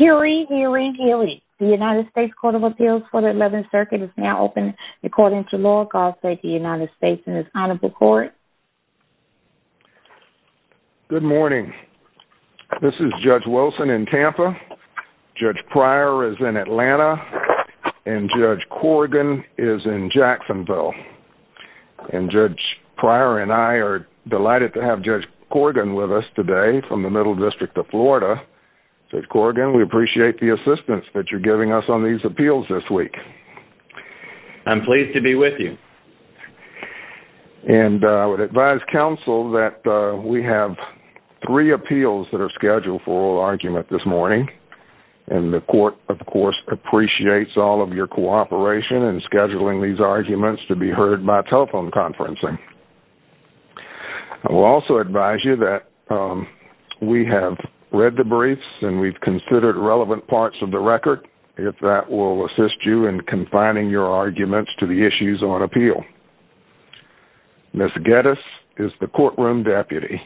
Hewry, Hewry, Hewry. The United States Court of Appeals for the 11th Circuit is now open according to law. I'll say the United States in its Honorable Court. Good morning. This is Judge Wilson in Tampa. Judge Pryor is in Atlanta. And Judge Corrigan is in Jacksonville. And Judge Pryor and I are delighted to have Judge Corrigan with us today from the Middle District of Florida. Judge Corrigan, we appreciate the assistance that you're giving us on these appeals this week. I'm pleased to be with you. And I would advise counsel that we have three appeals that are scheduled for oral argument this morning. And the court, of course, appreciates all of your cooperation in scheduling these arguments to be heard by telephone conferencing. I will also advise you that we have read the briefs and we've considered relevant parts of the record. If that will assist you in confining your arguments to the issues on appeal. Ms. Geddes is the courtroom deputy.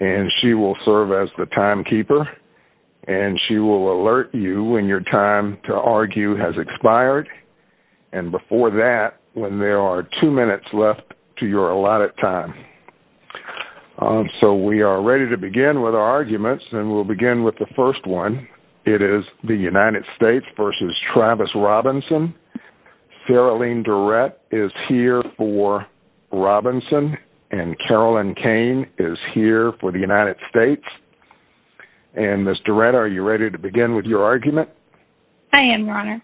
And she will serve as the timekeeper. And she will alert you when your time to argue has expired. And before that, when there are two minutes left to your allotted time. So we are ready to begin with our arguments. And we'll begin with the first one. It is the United States v. Travis Robinson. Farrellene Durrett is here for Robinson. And Carolyn Kane is here for the United States. And, Ms. Durrett, are you ready to begin with your argument? I am, Your Honor.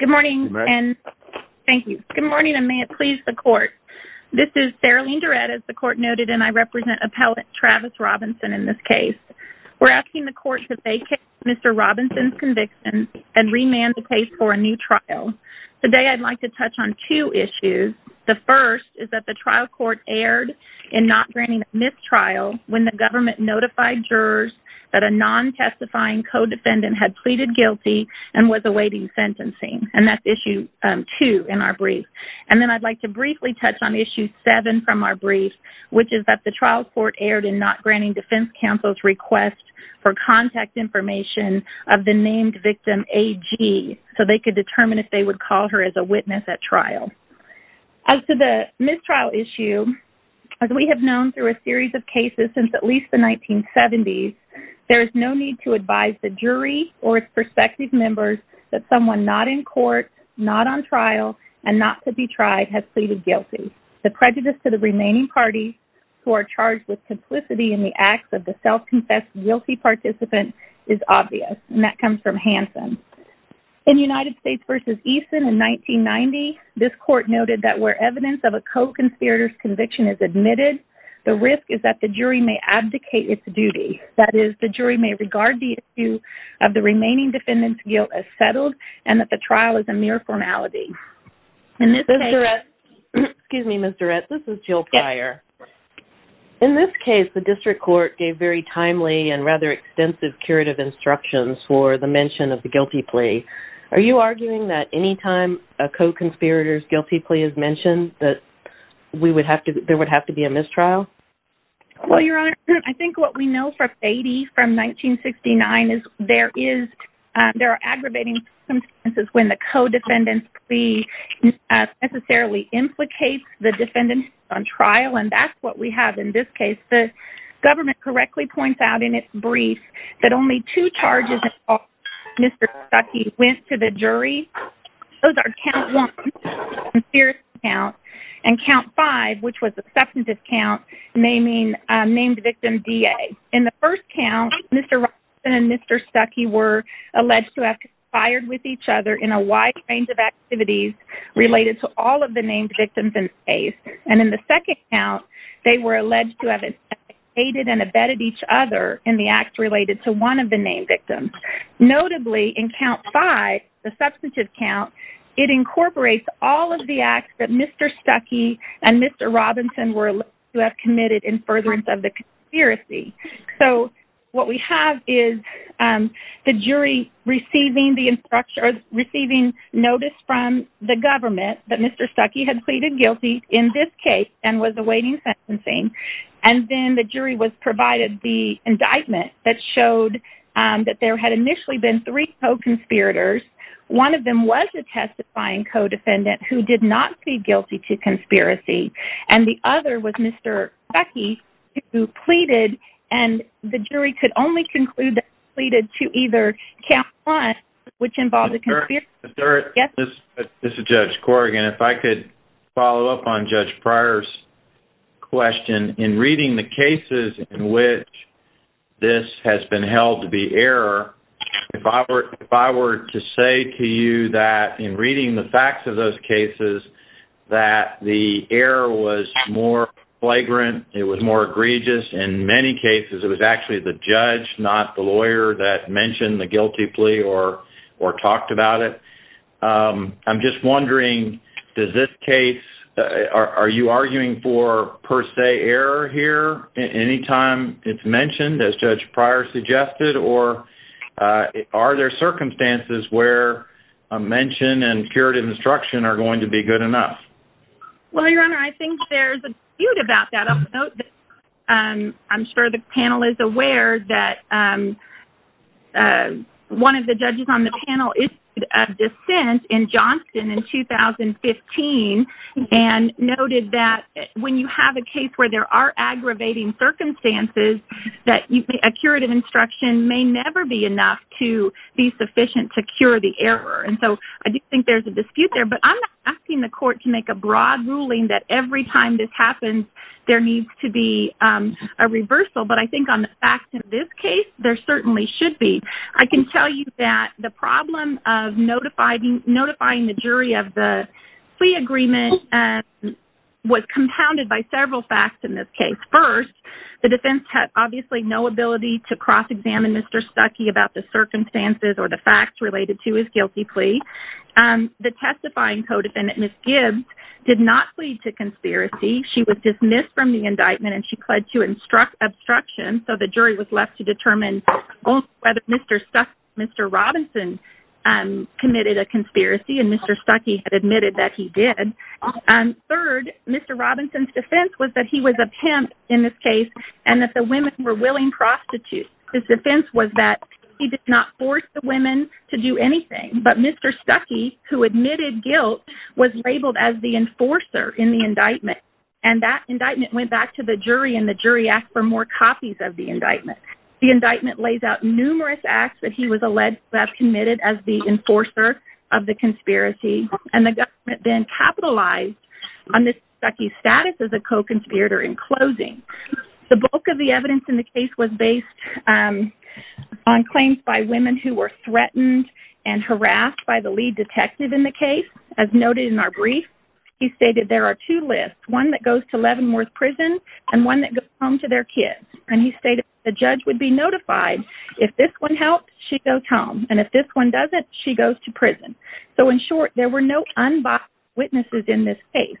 Good morning. Thank you. Good morning, and may it please the court. This is Farrellene Durrett, as the court noted, and I represent appellate Travis Robinson in this case. We're asking the court to vacate Mr. Robinson's conviction and remand the case for a new trial. Today I'd like to touch on two issues. The first is that the trial court erred in not granting mistrial when the government notified jurors that a non-testifying co-defendant had pleaded guilty and was awaiting sentencing. And that's issue two in our brief. And then I'd like to briefly touch on issue seven from our brief, which is that the trial court erred in not granting defense counsel's request for contact information of the named victim, A.G., so they could determine if they would call her as a witness at trial. As to the mistrial issue, as we have known through a series of cases since at least the 1970s, there is no need to advise the jury or its prospective members that someone not in court, not on trial, and not to be tried has pleaded guilty. The prejudice to the remaining parties who are charged with complicity in the acts of the self-confessed guilty participant is obvious, and that comes from Hanson. In United States v. Eason in 1990, this court noted that where evidence of a co-conspirator's conviction is admitted, the risk is that the jury may abdicate its duty. That is, the jury may regard the issue of the remaining defendant's guilt as settled and that the trial is a mere formality. Excuse me, Ms. Durrett, this is Jill Pryor. In this case, the district court gave very timely and rather extensive curative instructions for the mention of the guilty plea. Are you arguing that any time a co-conspirator's guilty plea is mentioned, that there would have to be a mistrial? Well, Your Honor, I think what we know from Fady from 1969 is there are aggravating circumstances when the co-defendant's plea necessarily implicates the defendant on trial, and that's what we have in this case. The government correctly points out in its brief that only two charges involved Mr. Stuckey went to the jury. Those are count one, the conspiracy count, and count five, which was the substantive count, named victim D.A. In the first count, Mr. Robinson and Mr. Stuckey were alleged to have conspired with each other in a wide range of activities related to all of the named victims in this case. And in the second count, they were alleged to have instigated and abetted each other in the acts related to one of the named victims. Notably, in count five, the substantive count, it incorporates all of the acts that Mr. Stuckey and Mr. Robinson were alleged to have committed in furtherance of the conspiracy. So what we have is the jury receiving the instructions, receiving notice from the government that Mr. Stuckey had pleaded guilty in this case and was awaiting sentencing, and then the jury was provided the indictment that showed that there had initially been three co-conspirators. One of them was a testifying co-defendant who did not plead guilty to conspiracy, and the other was Mr. Stuckey who pleaded, and the jury could only conclude that he pleaded to either count one, which involved a conspiracy. This is Judge Corrigan. If I could follow up on Judge Pryor's question. In reading the cases in which this has been held to be error, if I were to say to you that in reading the facts of those cases that the error was more flagrant, it was more egregious, in many cases it was actually the judge, not the lawyer that mentioned the guilty plea or talked about it. I'm just wondering, does this case, are you arguing for per se error here anytime it's mentioned, as Judge Pryor suggested, or are there circumstances where a mention and curative instruction are going to be good enough? Well, Your Honor, I think there's a dispute about that. I'm sure the panel is aware that one of the judges on the panel issued a dissent in Johnston in 2015 and noted that when you have a case where there are aggravating circumstances, that a curative instruction may never be enough to be sufficient to cure the error. And so I do think there's a dispute there, but I'm not asking the court to make a broad ruling that every time this happens there needs to be a reversal, but I think on the facts in this case, there certainly should be. I can tell you that the problem of notifying the jury of the plea agreement was compounded by several facts in this case. First, the defense had obviously no ability to cross-examine Mr. Stuckey about the circumstances or the facts related to his guilty plea. The testifying co-defendant, Ms. Gibbs, did not plead to conspiracy. She was dismissed from the indictment and she pled to obstruction, so the jury was left to determine whether Mr. Robinson committed a conspiracy, and Mr. Stuckey had admitted that he did. Third, Mr. Robinson's defense was that he was a pimp in this case and that the women were willing prostitutes. His defense was that he did not force the women to do anything, but Mr. Stuckey, who admitted guilt, was labeled as the enforcer in the indictment, and that indictment went back to the jury and the jury asked for more copies of the indictment. The indictment lays out numerous acts that he was alleged to have committed as the enforcer of the conspiracy, and the government then capitalized on Mr. Stuckey's status as a co-conspirator in closing. The bulk of the evidence in the case was based on claims by women who were threatened and harassed by the lead detective in the case. As noted in our brief, he stated there are two lists, one that goes to Leavenworth Prison and one that goes home to their kids, and he stated the judge would be notified, if this one helps, she goes home, and if this one doesn't, she goes to prison. So, in short, there were no unbiased witnesses in this case.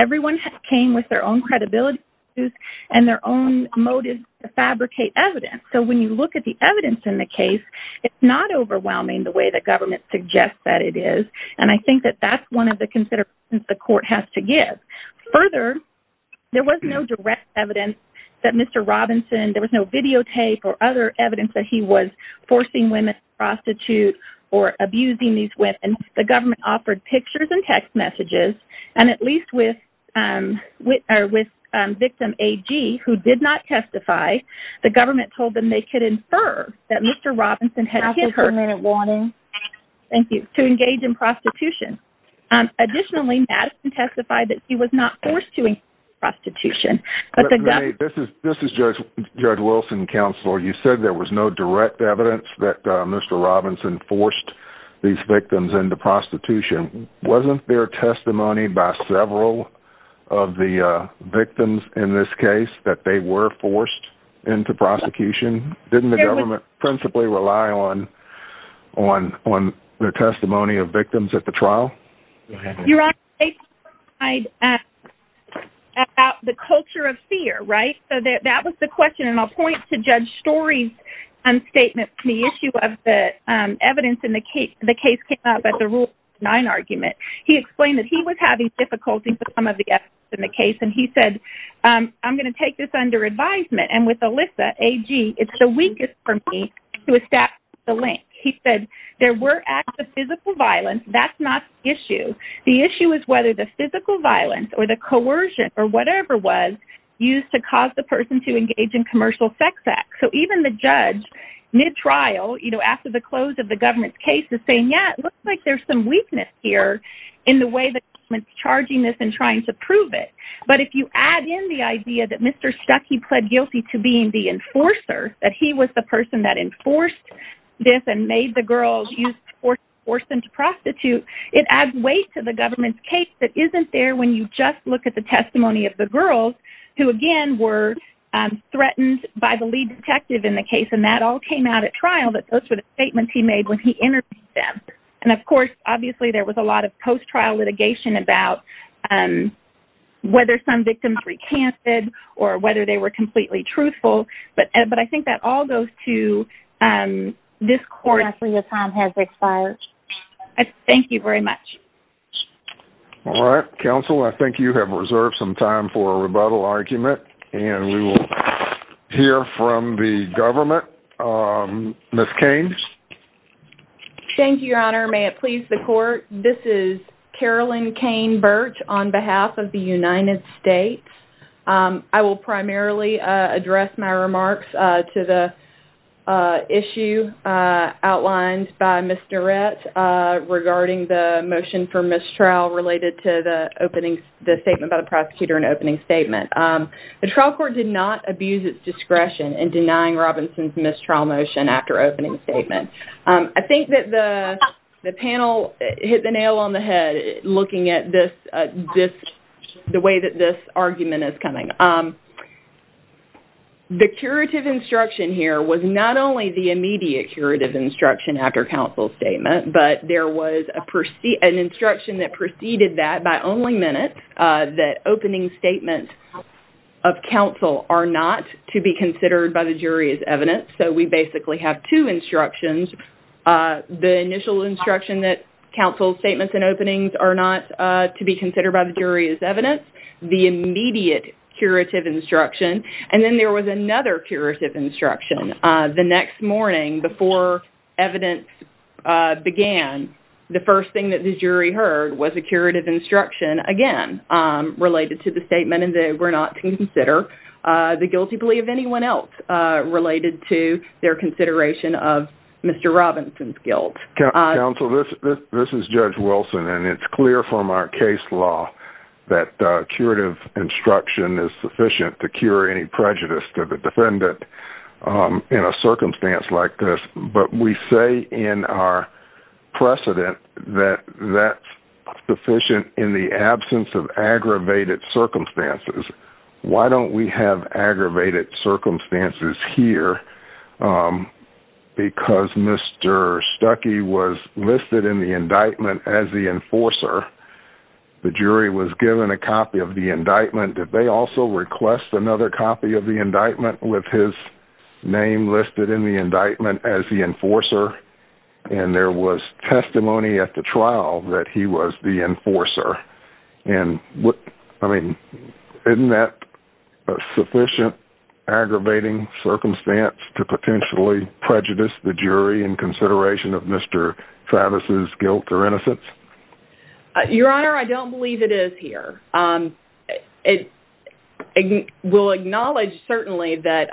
Everyone came with their own credibility and their own motive to fabricate evidence, so when you look at the evidence in the case, it's not overwhelming the way the government suggests that it is, and I think that that's one of the considerations the court has to give. Further, there was no direct evidence that Mr. Robinson, there was no videotape or other evidence that he was forcing women to prostitute or abusing these women. The government offered pictures and text messages, and at least with victim A.G. who did not testify, the government told them they could infer that Mr. Robinson had hit her to engage in prostitution. Additionally, Madison testified that she was not forced to engage in prostitution. This is Judge Wilson, Counselor. You said there was no direct evidence that Mr. Robinson forced these victims into prostitution. Wasn't there testimony by several of the victims in this case that they were forced into prosecution? Didn't the government principally rely on the testimony of victims at the trial? Your Honor, they testified about the culture of fear, right? So that was the question, and I'll point to Judge Story's statement on the issue of the evidence in the case. The case came up at the Rule 9 argument. He explained that he was having difficulty with some of the evidence in the case, and he said, I'm going to take this under advisement, and with Alyssa, A.G., it's the weakest for me to establish the link. He said there were acts of physical violence. That's not the issue. The issue is whether the physical violence or the coercion or whatever was used to cause the person to engage in commercial sex acts. So even the judge, mid-trial, you know, after the close of the government's case is saying, yeah, it looks like there's some weakness here in the way the government's charging this and trying to prove it. But if you add in the idea that Mr. Stuckey pled guilty to being the enforcer, that he was the person that enforced this and made the girls used to force them to prostitute, it adds weight to the government's case that isn't there when you just look at the testimony of the girls who, again, were threatened by the lead detective in the case, and that all came out at trial. Those were the statements he made when he interviewed them. And, of course, obviously there was a lot of post-trial litigation about whether some victims recanted or whether they were completely truthful, but I think that all goes to this court. Your time has expired. Thank you very much. All right. Counsel, I think you have reserved some time for a rebuttal argument, and we will hear from the government. Ms. Caines? Thank you, Your Honor. May it please the Court, this is Carolyn Caine-Burch on behalf of the United States. I will primarily address my remarks to the issue outlined by Mr. Rett regarding the motion for mistrial related to the statement by the prosecutor and opening statement. The trial court did not abuse its discretion in denying Robinson's mistrial motion after opening statement. I think that the panel hit the nail on the head looking at the way that this argument is coming. The curative instruction here was not only the immediate curative instruction after counsel's statement, but there was an instruction that preceded that by only minutes, that opening statements of counsel are not to be considered by the jury as evidence. So we basically have two instructions. The initial instruction that counsel's statements and openings are not to be considered by the jury as evidence, the immediate curative instruction, and then there was another curative instruction. The next morning before evidence began, the first thing that the jury heard was a curative instruction, again, related to the statement, and they were not to consider the guilty plea of anyone else related to their consideration of Mr. Robinson's guilt. Counsel, this is Judge Wilson, and it's clear from our case law that curative instruction is sufficient to cure any prejudice to the defendant in a circumstance like this, but we say in our precedent that that's sufficient in the absence of aggravated circumstances. Why don't we have aggravated circumstances here? Because Mr. Stuckey was listed in the indictment as the enforcer. The jury was given a copy of the indictment. Did they also request another copy of the indictment with his name listed in the indictment as the enforcer? And there was testimony at the trial that he was the enforcer. And, I mean, isn't that a sufficient aggravating circumstance to potentially prejudice the jury in consideration of Mr. Travis's guilt or innocence? Your Honor, I don't believe it is here. We'll acknowledge, certainly, that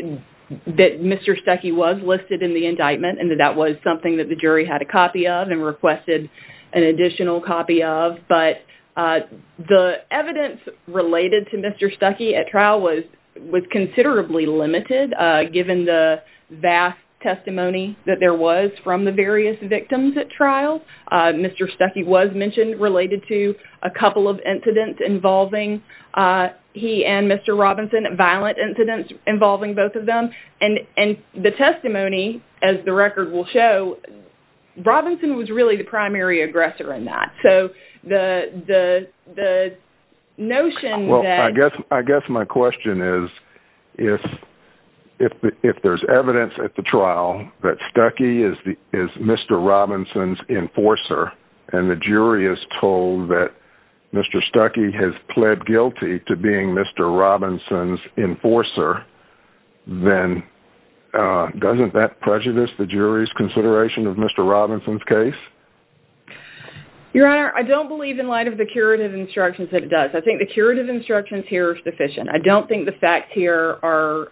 Mr. Stuckey was listed in the indictment and that that was something that the jury had a copy of and requested an additional copy of, but the evidence related to Mr. Stuckey at trial was considerably limited given the vast testimony that there was from the various victims at trial. Mr. Stuckey was mentioned related to a couple of incidents involving he and Mr. Robinson, violent incidents involving both of them. And the testimony, as the record will show, Robinson was really the primary aggressor in that. So the notion that... Well, I guess my question is if there's evidence at the trial that Stuckey is Mr. Robinson's enforcer and the jury is told that Mr. Stuckey has pled guilty to being Mr. Robinson's enforcer, then doesn't that prejudice the jury's consideration of Mr. Robinson's case? Your Honor, I don't believe in light of the curative instructions that it does. I think the curative instructions here are sufficient. I don't think the facts here are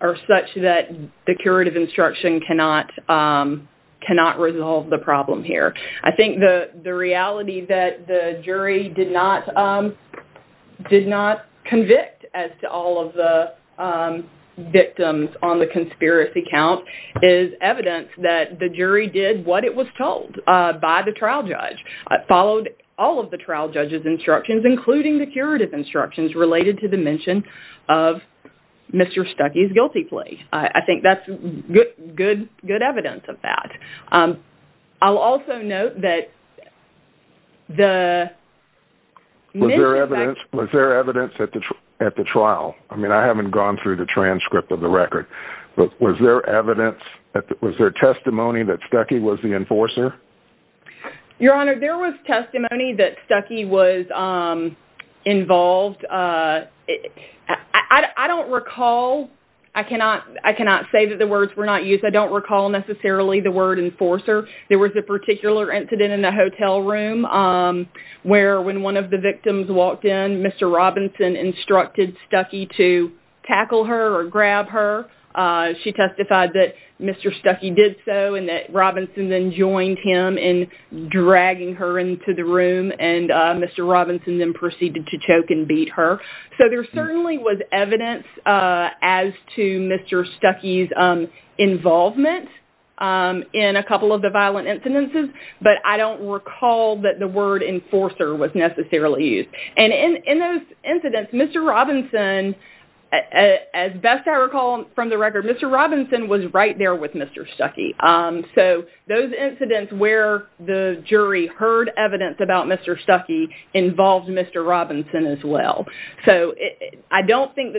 such that the curative instruction cannot resolve the problem here. I think the reality that the jury did not convict, as to all of the victims on the conspiracy count, is evidence that the jury did what it was told by the trial judge. It followed all of the trial judge's instructions, including the curative instructions, related to the mention of Mr. Stuckey's guilty plea. I think that's good evidence of that. I'll also note that the... Was there evidence at the trial? I mean, I haven't gone through the transcript of the record, but was there testimony that Stuckey was the enforcer? Your Honor, there was testimony that Stuckey was involved. I don't recall. I cannot say that the words were not used. I don't recall necessarily the word enforcer. There was a particular incident in the hotel room where, when one of the victims walked in, Mr. Robinson instructed Stuckey to tackle her or grab her. She testified that Mr. Stuckey did so and that Robinson then joined him in dragging her into the room, and Mr. Robinson then proceeded to choke and beat her. So there certainly was evidence as to Mr. Stuckey's involvement in a couple of the violent incidences, but I don't recall that the word enforcer was necessarily used. And in those incidents, Mr. Robinson, as best I recall from the record, Mr. Robinson was right there with Mr. Stuckey. So those incidents where the jury heard evidence about Mr. Stuckey involved Mr. Robinson as well. So I don't think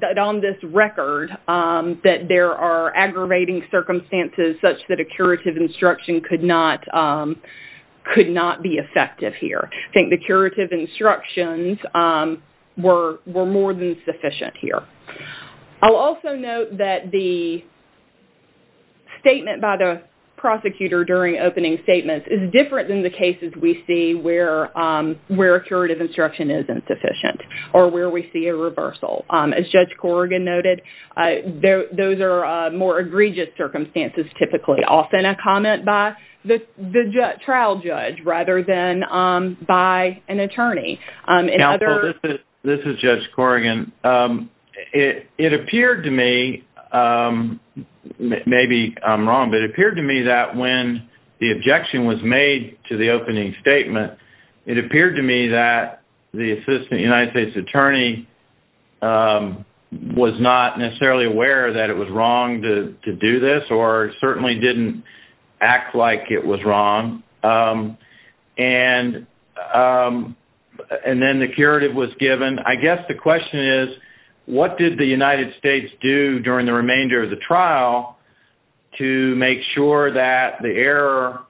that on this record that there are aggravating circumstances such that a curative instruction could not be effective here. I think the curative instructions were more than sufficient here. I'll also note that the statement by the prosecutor during opening statements is different than the cases we see where a curative instruction isn't sufficient or where we see a reversal. As Judge Corrigan noted, those are more egregious circumstances typically. The authentic comment by the trial judge rather than by an attorney. Counsel, this is Judge Corrigan. It appeared to me, maybe I'm wrong, but it appeared to me that when the objection was made to the opening statement, it appeared to me that the Assistant United States Attorney was not necessarily aware that it was wrong to do this or certainly didn't act like it was wrong. And then the curative was given. I guess the question is, what did the United States do during the remainder of the trial to make sure that the error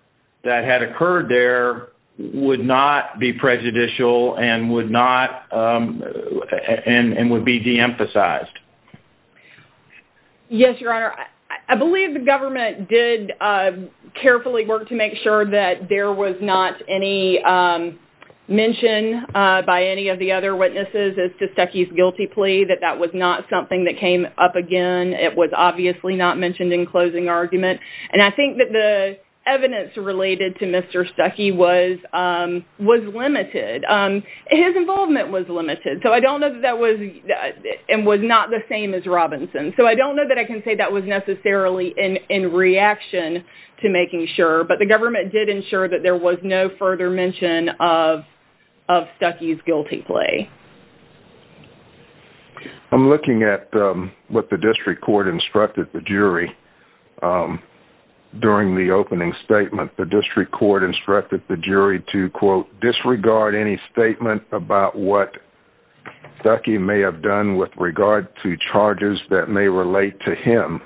that had occurred there would not be prejudicial and would be deemphasized? Yes, Your Honor. I believe the government did carefully work to make sure that there was not any mention by any of the other witnesses as to Stuckey's guilty plea, that that was not something that came up again. It was obviously not mentioned in closing argument. And I think that the evidence related to Mr. Stuckey was limited. His involvement was limited. So I don't know that that was and was not the same as Robinson's. So I don't know that I can say that was necessarily in reaction to making sure, but the government did ensure that there was no further mention of Stuckey's guilty plea. I'm looking at what the district court instructed the jury during the opening statement. The district court instructed the jury to, quote, disregard any statement about what Stuckey may have done with regard to charges that may relate to him.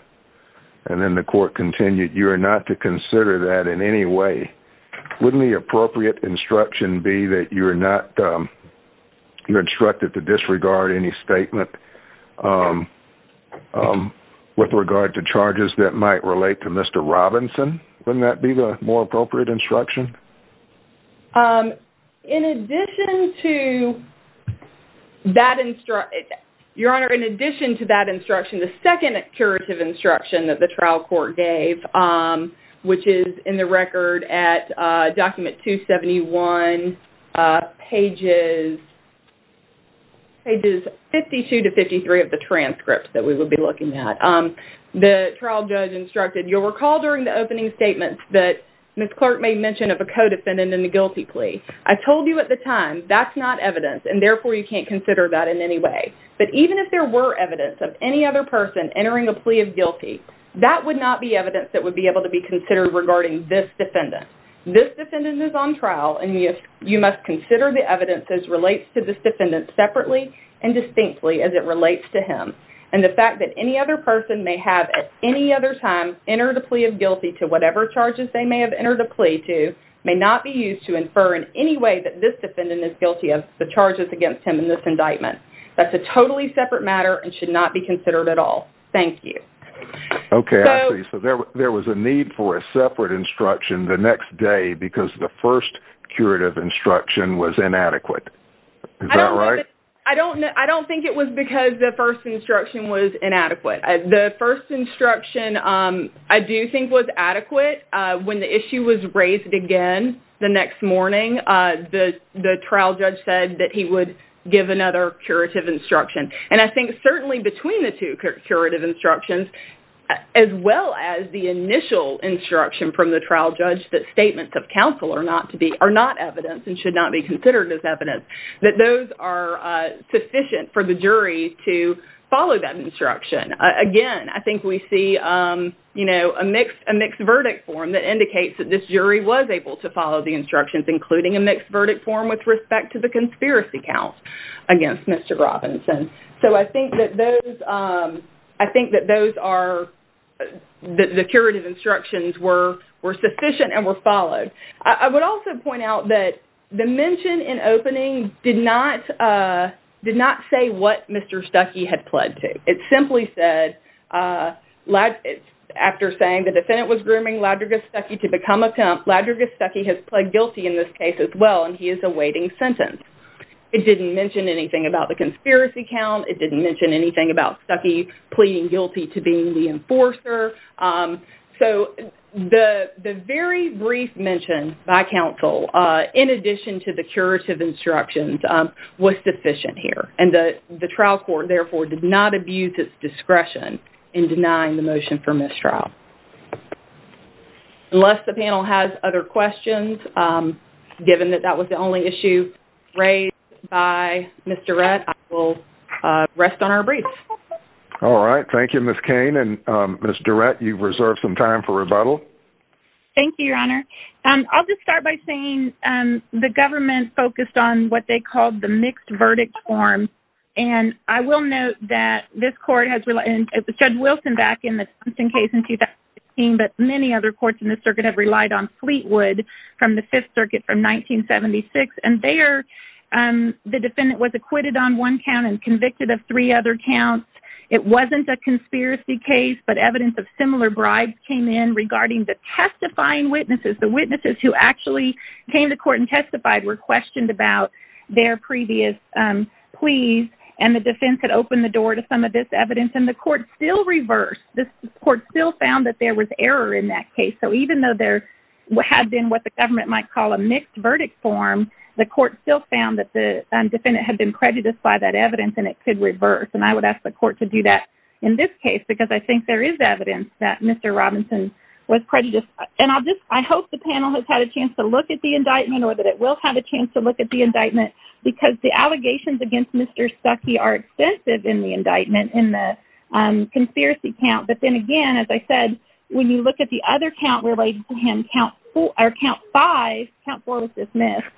And then the court continued, you are not to consider that in any way. Wouldn't the appropriate instruction be that you're instructed to disregard any statement with regard to charges that might relate to Mr. Robinson? Wouldn't that be the more appropriate instruction? In addition to that instruction, Your Honor, in addition to that instruction, the second curative instruction that the trial court gave, which is in the record at document 271, pages 52 to 53 of the transcript that we will be looking at, the trial judge instructed, you'll recall during the opening statement that Ms. Clark made mention of a co-defendant in the guilty plea. I told you at the time, that's not evidence, and therefore you can't consider that in any way. But even if there were evidence of any other person entering a plea of guilty, that would not be evidence that would be able to be considered regarding this defendant. This defendant is on trial, and you must consider the evidence as relates to this defendant separately and distinctly as it relates to him. And the fact that any other person may have at any other time entered a plea of guilty to whatever charges they may have entered a plea to may not be used to infer in any way that this defendant is guilty of the charges against him in this indictment. That's a totally separate matter and should not be considered at all. Thank you. Okay, I see. So there was a need for a separate instruction the next day because the first curative instruction was inadequate. Is that right? I don't think it was because the first instruction was inadequate. The first instruction I do think was adequate. When the issue was raised again the next morning, the trial judge said that he would give another curative instruction. And I think certainly between the two curative instructions, as well as the initial instruction from the trial judge that statements of counsel are not evidence and should not be considered as evidence, that those are sufficient for the jury to follow that instruction. Again, I think we see, you know, a mixed verdict form that indicates that this jury was able to follow the instructions, including a mixed verdict form with respect to the conspiracy count against Mr. Robinson. So I think that those are the curative instructions were sufficient and were followed. I would also point out that the mention in opening did not say what Mr. Stuckey had pled to. It simply said, after saying the defendant was grooming Ladrigus Stuckey to become a cop, Ladrigus Stuckey has pled guilty in this case as well and he is awaiting sentence. It didn't mention anything about the conspiracy count. It didn't mention anything about Stuckey pleading guilty to being the enforcer. So the very brief mention by counsel, in addition to the curative instructions, was sufficient here. And the trial court, therefore, did not abuse its discretion in denying the motion for mistrial. Unless the panel has other questions, given that that was the only issue raised by Ms. Durrett, I will rest on our briefs. All right, thank you, Ms. Cain. Ms. Durrett, you've reserved some time for rebuttal. Thank you, Your Honor. I'll just start by saying the government focused on what they called the mixed verdict form. And I will note that this court has relied, and Judge Wilson back in the Simpson case in 2016, but many other courts in the circuit have relied on Fleetwood from the Fifth Circuit from 1976. And there the defendant was acquitted on one count and convicted of three other counts. It wasn't a conspiracy case, but evidence of similar bribes came in regarding the testifying witnesses. The witnesses who actually came to court and testified were questioned about their previous pleas, and the defense had opened the door to some of this evidence. And the court still reversed. The court still found that there was error in that case. So even though there had been what the government might call a mixed verdict form, the court still found that the defendant had been prejudiced by that evidence, and it could reverse. And I would ask the court to do that in this case, because I think there is evidence that Mr. Robinson was prejudiced. And I hope the panel has had a chance to look at the indictment, or that it will have a chance to look at the indictment, because the allegations against Mr. Stuckey are extensive in the indictment in the conspiracy count. But then again, as I said, when you look at the other count related to him, count five, count four was dismissed.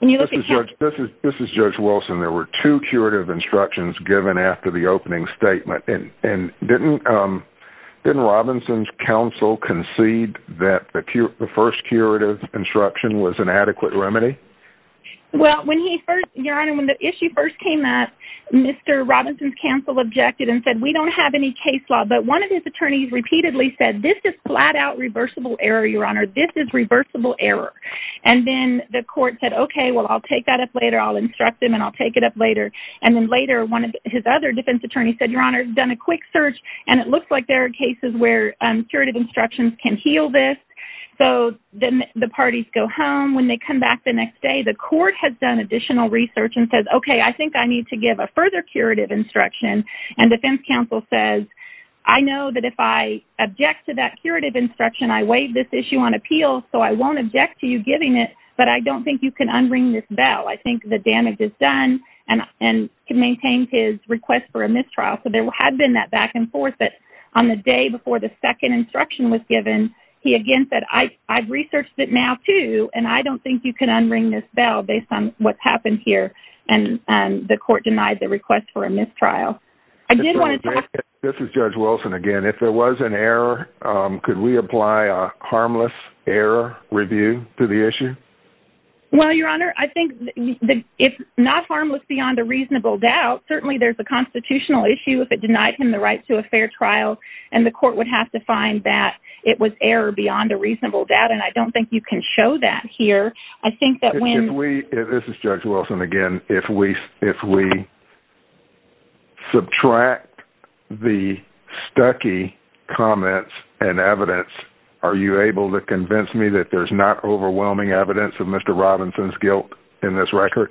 This is Judge Wilson. There were two curative instructions given after the opening statement. And didn't Robinson's counsel concede that the first curative instruction was an adequate remedy? Well, when he first, Your Honor, when the issue first came up, Mr. Robinson's counsel objected and said, we don't have any case law. But one of his attorneys repeatedly said, this is flat-out reversible error, Your Honor. This is reversible error. And then the court said, okay, well, I'll take that up later. I'll instruct him, and I'll take it up later. And then later, one of his other defense attorneys said, Your Honor, he's done a quick search, and it looks like there are cases where curative instructions can heal this. So then the parties go home. When they come back the next day, the court has done additional research and says, okay, I think I need to give a further curative instruction. And defense counsel says, I know that if I object to that curative instruction, I waived this issue on appeal, so I won't object to you giving it, but I don't think you can unring this bell. I think the damage is done and can maintain his request for a mistrial. So there had been that back and forth. But on the day before the second instruction was given, he again said, I've researched it now, too, and I don't think you can unring this bell based on what's happened here. And the court denied the request for a mistrial. I did want to talk to you. This is Judge Wilson again. If there was an error, could we apply a harmless error review to the issue? Well, Your Honor, I think if not harmless beyond a reasonable doubt, certainly there's a constitutional issue if it denied him the right to a fair trial, and the court would have to find that it was error beyond a reasonable doubt, and I don't think you can show that here. This is Judge Wilson again. If we subtract the Stuckey comments and evidence, are you able to convince me that there's not overwhelming evidence of Mr. Robinson's guilt in this record?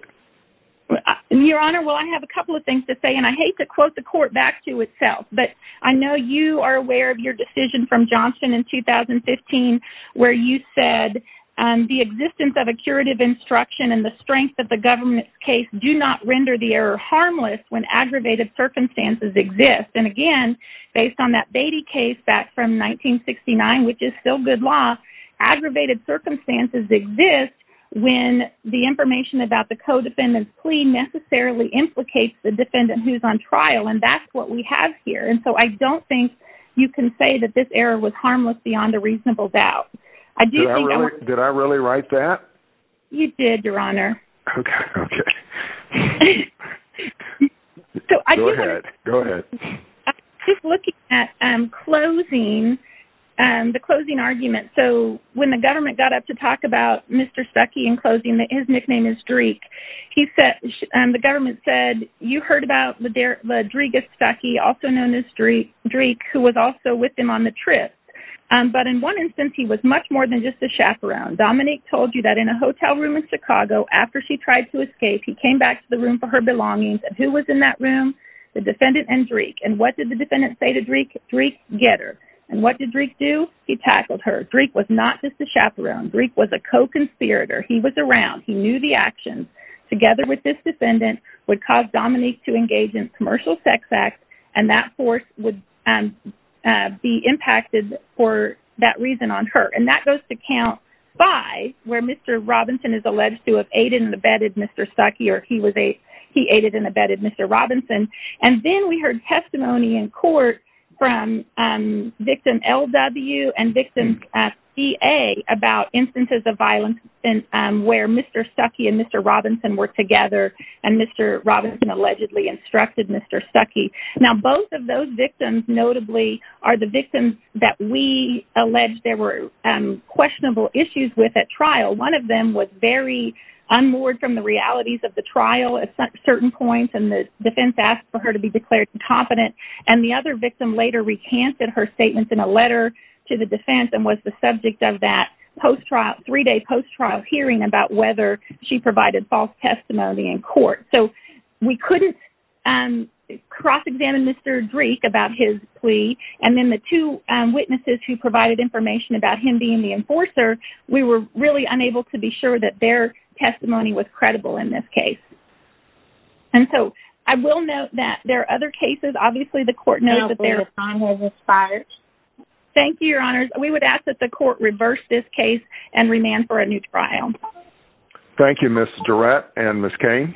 Your Honor, well, I have a couple of things to say, and I hate to quote the court back to itself, but I know you are aware of your decision from Johnston in 2015 where you said the existence of a curative instruction and the strength of the government's case do not render the error harmless when aggravated circumstances exist. And, again, based on that Beatty case back from 1969, which is still good law, aggravated circumstances exist when the information about the co-defendant's plea necessarily implicates the defendant who's on trial, and that's what we have here. And so I don't think you can say that this error was harmless beyond a reasonable doubt. Did I really write that? You did, Your Honor. Okay, okay. Go ahead, go ahead. Just looking at closing, the closing argument, so when the government got up to talk about Mr. Stuckey in closing, his nickname is Dreek, and the government said, you heard about the Dreek of Stuckey, also known as Dreek, who was also with him on the trip, but in one instance he was much more than just a chaperone. Dominique told you that in a hotel room in Chicago, after she tried to escape, he came back to the room for her belongings, and who was in that room? The defendant and Dreek. And what did the defendant say to Dreek? Dreek, get her. And what did Dreek do? He tackled her. Dreek was not just a chaperone. Dreek was a co-conspirator. He was around. He knew the actions. Together with this defendant would cause Dominique to engage in commercial sex acts, and that force would be impacted for that reason on her, and that goes to count five where Mr. Robinson is alleged to have aided and abetted Mr. Stuckey, or he aided and abetted Mr. Robinson, and then we heard testimony in court from victim LW and victim CA about instances of violence where Mr. Stuckey and Mr. Robinson were together, and Mr. Robinson allegedly instructed Mr. Stuckey. Now, both of those victims, notably, are the victims that we allege there were questionable issues with at trial. One of them was very unmoored from the realities of the trial at certain points, and the defense asked for her to be declared incompetent, and the other victim later recanted her statements in a letter to the defense and was the subject of that three-day post-trial hearing about whether she provided false testimony in court. So we couldn't cross-examine Mr. Dreek about his plea, and then the two witnesses who provided information about him being the enforcer, we were really unable to be sure that their testimony was credible in this case. And so I will note that there are other cases. Obviously, the court knows that there are other cases. Thank you, Your Honors. We would ask that the court reverse this case and remand for a new trial. Thank you, Ms. Durrett and Ms. Cain.